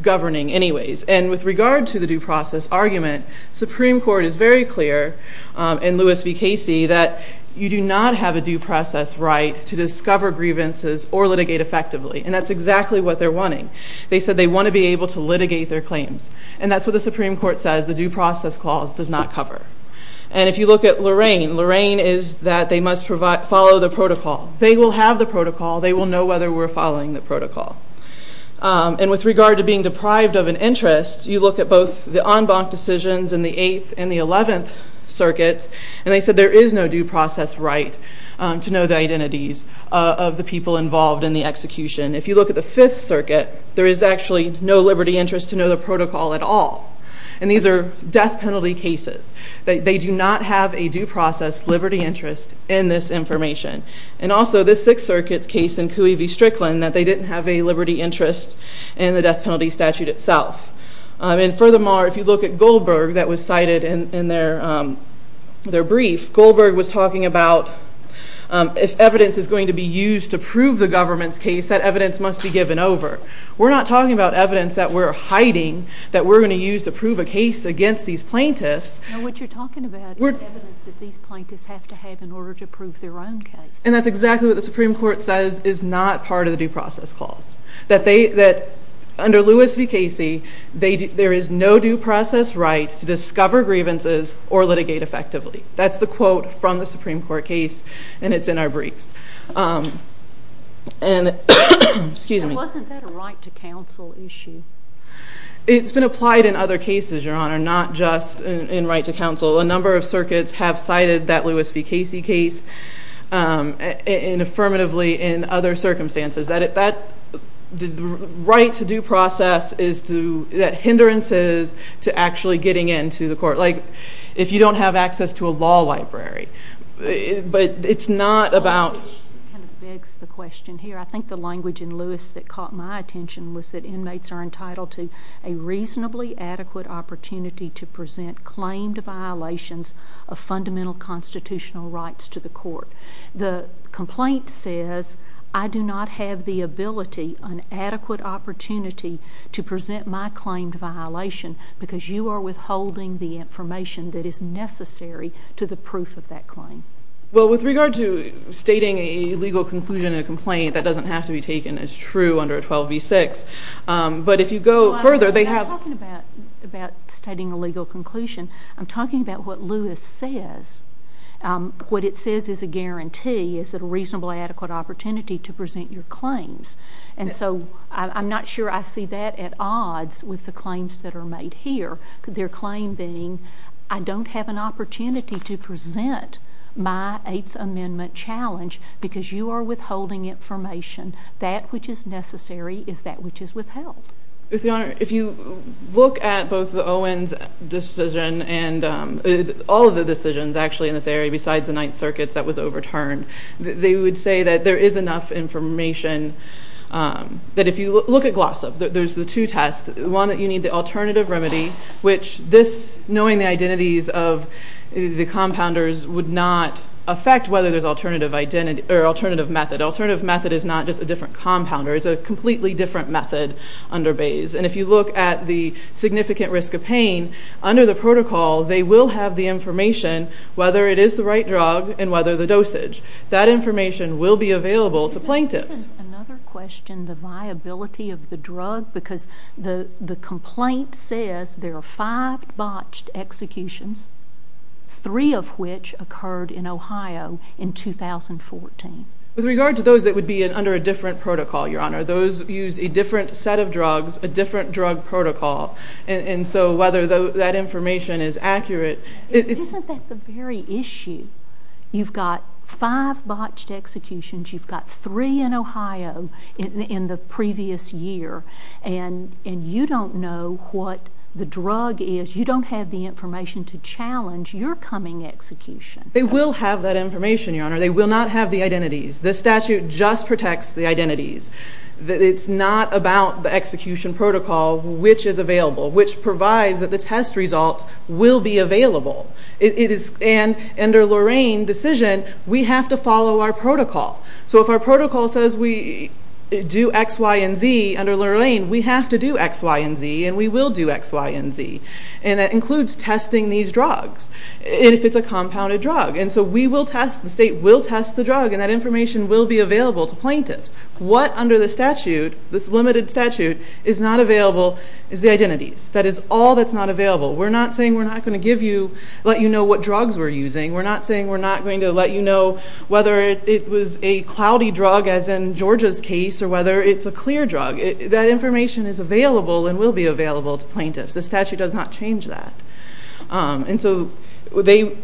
governing anyways. And with regard to the due process argument, Supreme Court is very clear in Lewis v. Casey that you do not have a due process right to discover grievances or litigate effectively. And that's exactly what they're wanting. They said they wanna be able to litigate their claims. And that's what the Supreme Court says the due process clause does not cover. And if you look at Lorraine, Lorraine is that they must follow the protocol. They will have the protocol, they will know whether we're following the protocol. And with regard to being deprived of an interest, you look at both the en banc decisions in the 8th and the 11th circuits, and they said there is no due process right to know the identities of the people involved in the execution. If you look at the 5th circuit, there is actually no liberty interest to know the protocol at all. And these are death penalty cases. They do not have a due process liberty interest in this information. And also, this 6th circuit's case in Cooey v. Strickland, that they didn't have a liberty interest in the death penalty statute itself. And furthermore, if you look at Goldberg that was cited in their brief, Goldberg was talking about if evidence is going to be used to prove the government's case, that evidence must be given over. We're not talking about evidence that we're hiding, that we're gonna use to prove a case against these plaintiffs. No, what you're talking about is evidence that these plaintiffs have to have in order to prove their own case. And that's exactly what the Supreme Court says is not part of the due process clause. That under Lewis v. Casey, there is no due process right to discover grievances or litigate effectively. That's the quote from the Supreme Court case, and it's in our briefs. And wasn't that a right to counsel issue? It's been applied in other cases, Your Honor, not just in right to counsel. A number of circuits have cited that Lewis v. Casey case and affirmatively in other circumstances, that the right to due process is to... That hindrances to actually getting in to the court, like if you don't have access to a law library. But it's not about... It begs the question here. I think the language in Lewis that caught my attention was that inmates are entitled to a reasonably adequate opportunity to present claimed violations of fundamental constitutional rights to the court. The complaint says, I do not have the ability, an adequate opportunity to present my claimed violation because you are withholding the information that is necessary to the proof of that claim. Well, with regard to stating a legal conclusion in a complaint, that doesn't have to be taken as true under a 12 v. 6. But if you go further, they have... I'm not talking about stating a legal conclusion. I'm talking about what Lewis says. What it says is a guarantee is that a reasonable, adequate opportunity to present your claims. And so I'm not sure I see that at odds with the claims that are made here. Their claim being, I don't have an opportunity to present my Eighth Amendment challenge because you are withholding information. That which is necessary is that which is withheld. With your honor, if you look at both the Owens decision and all of the decisions actually in this area besides the Ninth Circuit's that was overturned, they would say that there is enough information that if you look at Glossop, there's the two tests. One, you need the compounders would not affect whether there's alternative method. Alternative method is not just a different compounder. It's a completely different method under Bayes. And if you look at the significant risk of pain, under the protocol, they will have the information whether it is the right drug and whether the dosage. That information will be available to plaintiffs. Isn't another question the viability of the drug? Because the complaint says there are five botched executions, three of which occurred in Ohio in 2014. With regard to those that would be under a different protocol, your honor, those used a different set of drugs, a different drug protocol. And so whether that information is accurate... Isn't that the very issue? You've got five botched executions, you've got three in Ohio in the previous year, and you don't know what the drug is. You don't have the information to challenge your coming execution. They will have that information, your honor. They will not have the identities. The statute just protects the identities. It's not about the execution protocol, which is available, which provides that the test results will be available. It is... And under Lorraine decision, we have to follow our protocol. So if our protocol says we do X, Y, and Z under Lorraine, we have to do X, Y, and Z, and we will do X, Y, and Z. And that includes testing these drugs, if it's a compounded drug. And so we will test, the state will test the drug, and that information will be available to plaintiffs. What under the statute, this limited statute, is not available is the identities. That is all that's not available. We're not saying we're not gonna give you, let you know what drugs we're using. We're not saying we're not going to let you know whether it was a cloudy drug, as in Georgia's case, or whether it's a clear drug. That information is available and will be available to plaintiffs. The statute does not change that. And so they...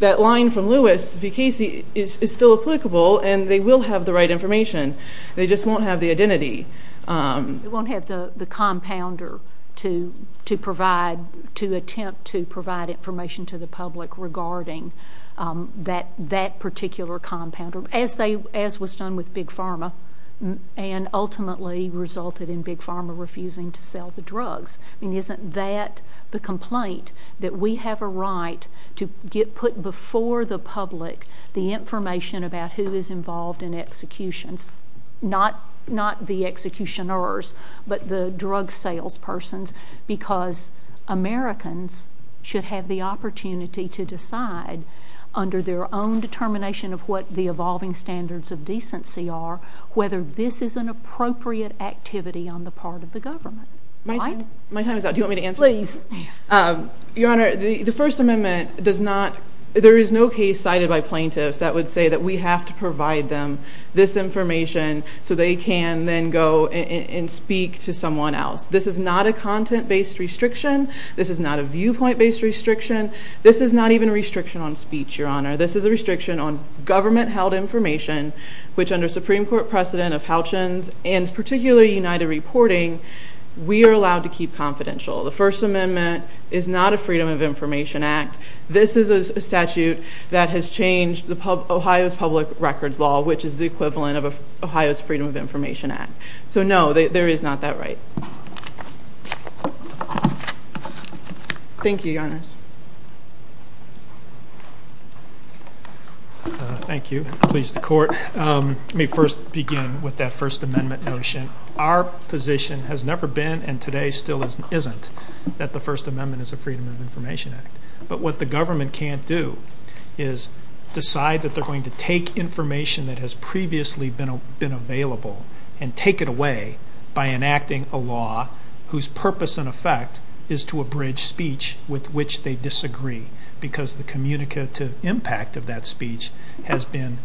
That line from Lewis v. Casey is still applicable, and they will have the right information. They just won't have the compounder to provide, to attempt to provide information to the public regarding that particular compounder, as was done with Big Pharma, and ultimately resulted in Big Pharma refusing to sell the drugs. I mean, isn't that the complaint, that we have a right to get put before the public, the information about who is involved in executions, not the executioners, but the drug sales persons, because Americans should have the opportunity to decide under their own determination of what the evolving standards of decency are, whether this is an appropriate activity on the part of the government. My time is up. Do you want me to answer? Please. Yes. Your Honor, the First Amendment does not... There is no case cited by plaintiffs that would say that we have to provide them this information so they can then go and speak to someone else. This is not a content based restriction. This is not a viewpoint based restriction. This is not even a restriction on speech, Your Honor. This is a restriction on government held information, which under Supreme Court precedent of Halchins, and particularly United Reporting, we are allowed to keep confidential. The First Amendment is not a Freedom of Information Act. This is a statute that has changed Ohio's public records law, which is the equivalent of Ohio's Freedom of Information Act. So no, there is not that right. Thank you, Your Honors. Thank you. Please, the Court. Let me first begin with that First Amendment notion. Our position has never been, and today still isn't, that the First Amendment is a Freedom of Information Act. But what the government can't do is decide that they're going to take information that has previously been available and take it away by enacting a law whose purpose and effect is to abridge speech with which they disagree, because the communicative impact of that speech has been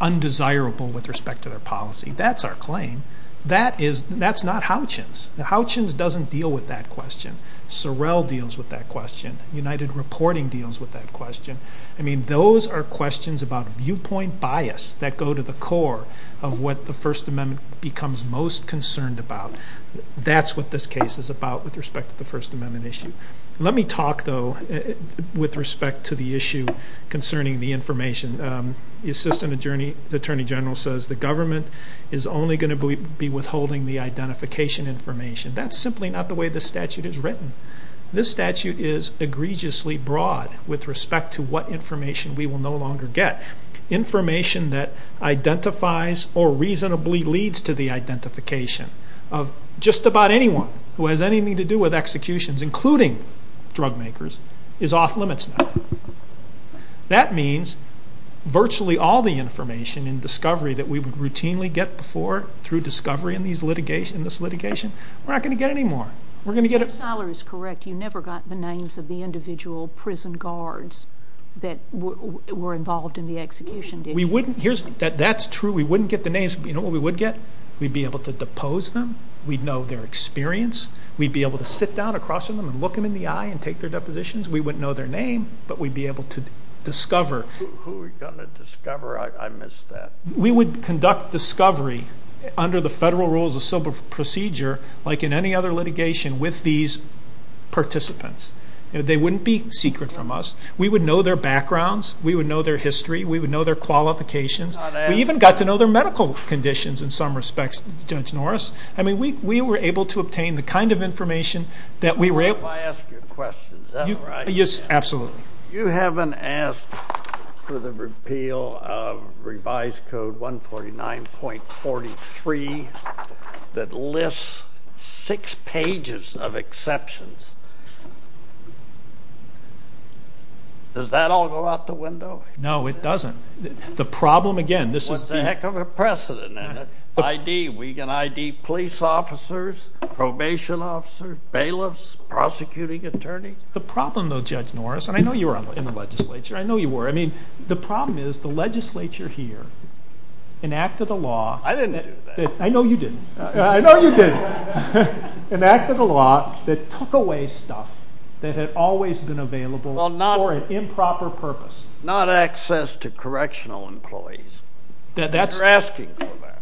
undesirable with respect to their policy. That's our claim. That's not Halchins. Halchins doesn't deal with that question. Sorrell deals with that question. United Reporting deals with that question. Those are questions about viewpoint bias that go to the core of what the First Amendment becomes most concerned about. That's what this case is about with respect to the First Amendment issue. Let me talk, though, with respect to the issue concerning the information. The Assistant Attorney General says the government is only going to be withholding the identification information. That's simply not the way the statute is written. This statute is egregiously broad with respect to what information we will no longer get. Information that identifies or reasonably leads to the identification of just about anyone who has anything to do with executions, including drug makers, is off limits now. That means virtually all the information in discovery that we would routinely get before through discovery in this litigation, we're not going to get anymore. We're going to get... Mr. Seiler is correct. You never got the names of the individual prison guards that were involved in the execution. That's true. We wouldn't get the names, but you know what we would get? We'd be able to depose them. We'd know their experience. We'd be able to sit down across from them and look them in the eye and take their depositions. We wouldn't know their name, but we'd be able to discover... Who are we gonna discover? I missed that. We would conduct discovery under the federal rules of civil procedure like in any other litigation with these participants. They wouldn't be secret from us. We would know their backgrounds. We would know their history. We would know their qualifications. We even got to know their medical conditions in some respects, Judge Norris. We were able to obtain the kind of information that we were able... If I ask you a question, is that right? Yes, 0.43 that lists six pages of exceptions. Does that all go out the window? No, it doesn't. The problem, again, this is... What the heck of a precedent, isn't it? ID, we can ID police officers, probation officers, bailiffs, prosecuting attorneys. The problem, though, Judge Norris, and I know you were in the legislature. I know you were. I mean, the problem is the legislature here enacted a law... I didn't do that. I know you didn't. I know you didn't. Enacted a law that took away stuff that had always been available for an improper purpose. Well, not access to correctional employees. You're asking for that.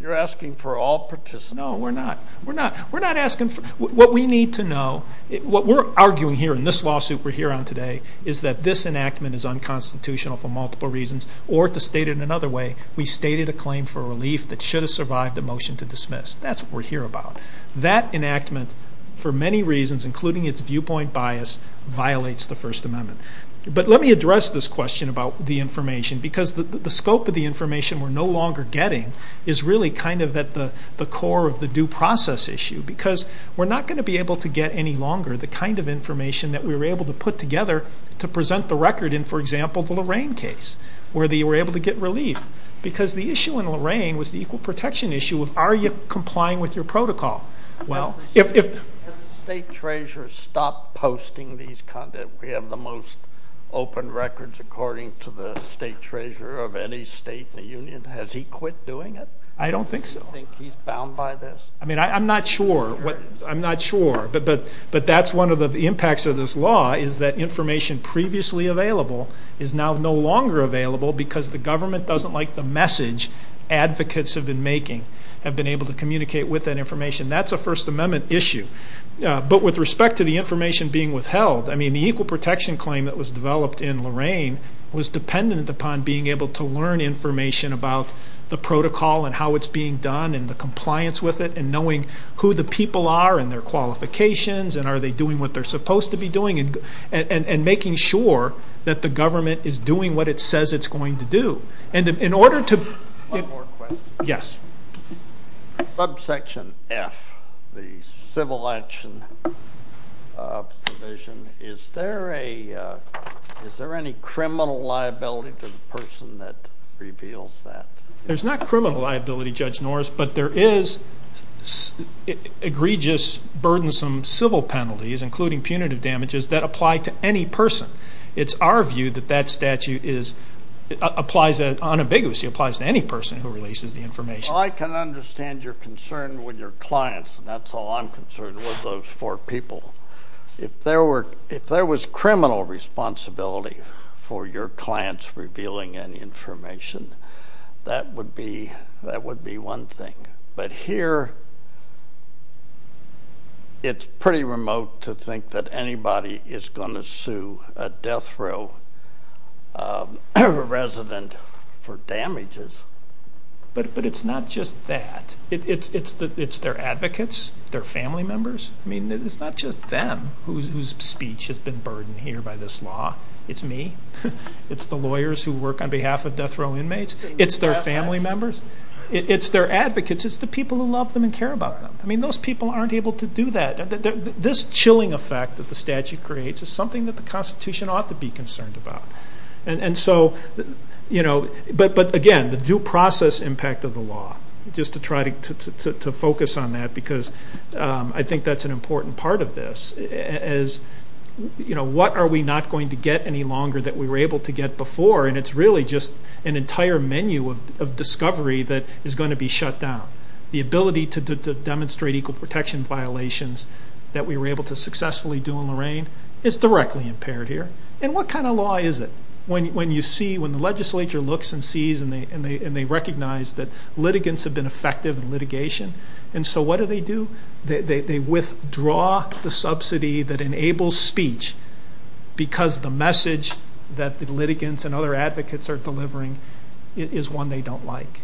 You're asking for all participants. No, we're not. We're not asking for... What we need to know, what we're arguing here in this lawsuit we're here on today, is that this enactment is unconstitutional for multiple reasons, or to state it another way, we stated a claim for relief that should have survived a motion to dismiss. That's what we're here about. That enactment, for many reasons, including its viewpoint bias, violates the First Amendment. But let me address this question about the information, because the scope of the information we're no longer getting is really kind of at the core of the due process issue, because we're not gonna be able to get any longer the kind of information that we were able to put together to present the record in, for example, the Lorraine case, where they were able to get relief, because the issue in Lorraine was the equal protection issue of, are you complying with your protocol? Well, if... Has the state treasurer stopped posting these content? We have the most open records, according to the state treasurer of any state in the union. Has he quit doing it? I don't think so. Do you think he's bound by this? I'm not sure. I'm not sure, but that's one of the impacts of this law, is that information previously available is now no longer available because the government doesn't like the message advocates have been making, have been able to communicate with that information. That's a First Amendment issue. But with respect to the information being withheld, the equal protection claim that was developed in Lorraine was dependent upon being able to learn information about the protocol and how it's being done and the compliance with it, and knowing who the people are and their qualifications, and are they doing what they're supposed to be doing, and making sure that the government is doing what it says it's going to do. And in order to... One more question. Yes. Subsection F, the civil action provision, is there a... Is there any criminal liability to the person that reveals that? There's not criminal liability, Judge Norris, but there is egregious, burdensome civil penalties, including punitive damages, that apply to any person. It's our view that that statute applies... On a big issue, it applies to any person who releases the information. Well, I can understand your concern with your clients, and that's all I'm concerned with, those four people. If there was criminal responsibility for your clients revealing any information, that would be one thing. But here, it's pretty remote to think that anybody is gonna sue a death row resident for damages. But it's not just that. It's their advocates, their family members. I mean, it's not just them whose speech has been burdened here by this law. It's me. It's the lawyers who work on behalf of death row inmates. It's their family members. It's their advocates. It's the people who love them and care about them. I mean, those people aren't able to do that. This chilling effect that the statute creates is something that the Constitution ought to be concerned about. And so... But again, the due process impact of the law, just to try to focus on that, because I think that's an important part of this, is what are we not going to get any longer that we were able to get before? And it's really just an entire menu of discovery that is gonna be shut down. The ability to demonstrate equal protection violations that we were able to successfully do in Lorain is directly impaired here. And what kind of law is it? When you see... When the legislature looks and sees and they recognize that litigants have been effective in litigation. And so what do they do? They withdraw the subsidy that enables speech, because the message that the litigants and other advocates are delivering is one they don't like.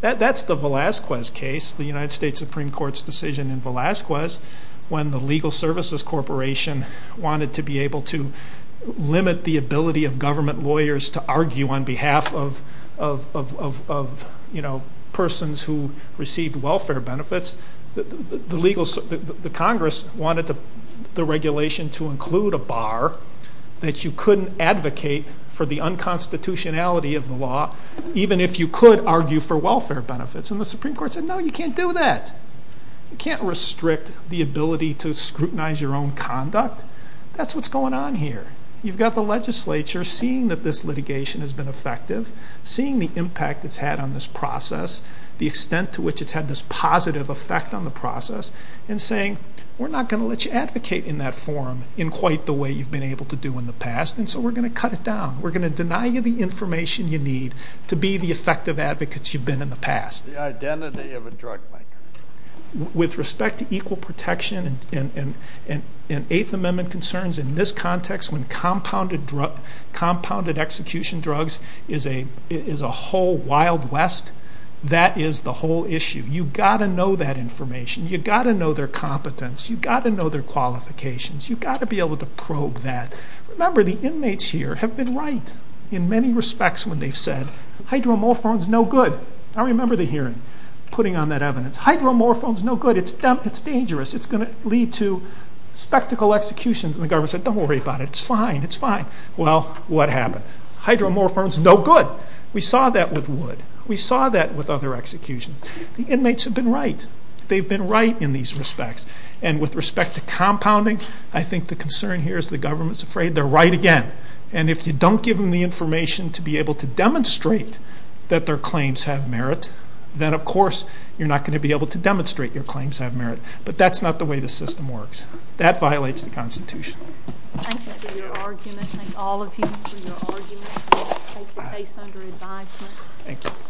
That's the Velazquez case, the United States Supreme Court's decision in Velazquez, when the Legal Services Corporation wanted to be able to limit the ability of government lawyers to argue on behalf of persons who received welfare benefits. The Congress wanted the regulation to include a bar that you couldn't advocate for the unconstitutionality of the law, even if you could argue for welfare benefits. And the Supreme Court said, No, you can't do that. You can't restrict the ability to scrutinize your own conduct. That's what's going on here. You've got the legislature seeing that this litigation has been effective, seeing the impact it's had on this process, the extent to which it's had this positive effect on the process, and saying, We're not gonna let you advocate in that forum in quite the way you've been able to do in the past, and so we're gonna cut it down. We're gonna deny you the information you need to be the effective advocates you've been in the past. The identity of a drug maker. With respect to equal protection and Eighth Amendment concerns in this context, when compounded execution drugs is a whole Wild West, that is the whole issue. You gotta know that information. You gotta know their competence. You gotta know their qualifications. You gotta be able to probe that. Remember, the inmates here have been right in many respects when they've said, Hydromorphone's no good. I remember the hearing, putting on that evidence. Hydromorphone's no good. It's dangerous. It's gonna lead to spectacle executions. And the government said, Don't worry about it. It's fine. It's fine. Well, what happened? Hydromorphone's no good. We saw that with Wood. We saw that with other executions. The inmates have been right. They've been right in these respects. And with respect to compounding, I think the concern here is the government's afraid they're right again. And if you don't give them the information to be able to demonstrate that their claims have merit, then of course, you're not gonna be able to demonstrate your claims have merit. But that's not the way the system works. That violates the Constitution. Thank you for your argument. Thank all of you for your argument. Thank you. Case under advisement. Thank you.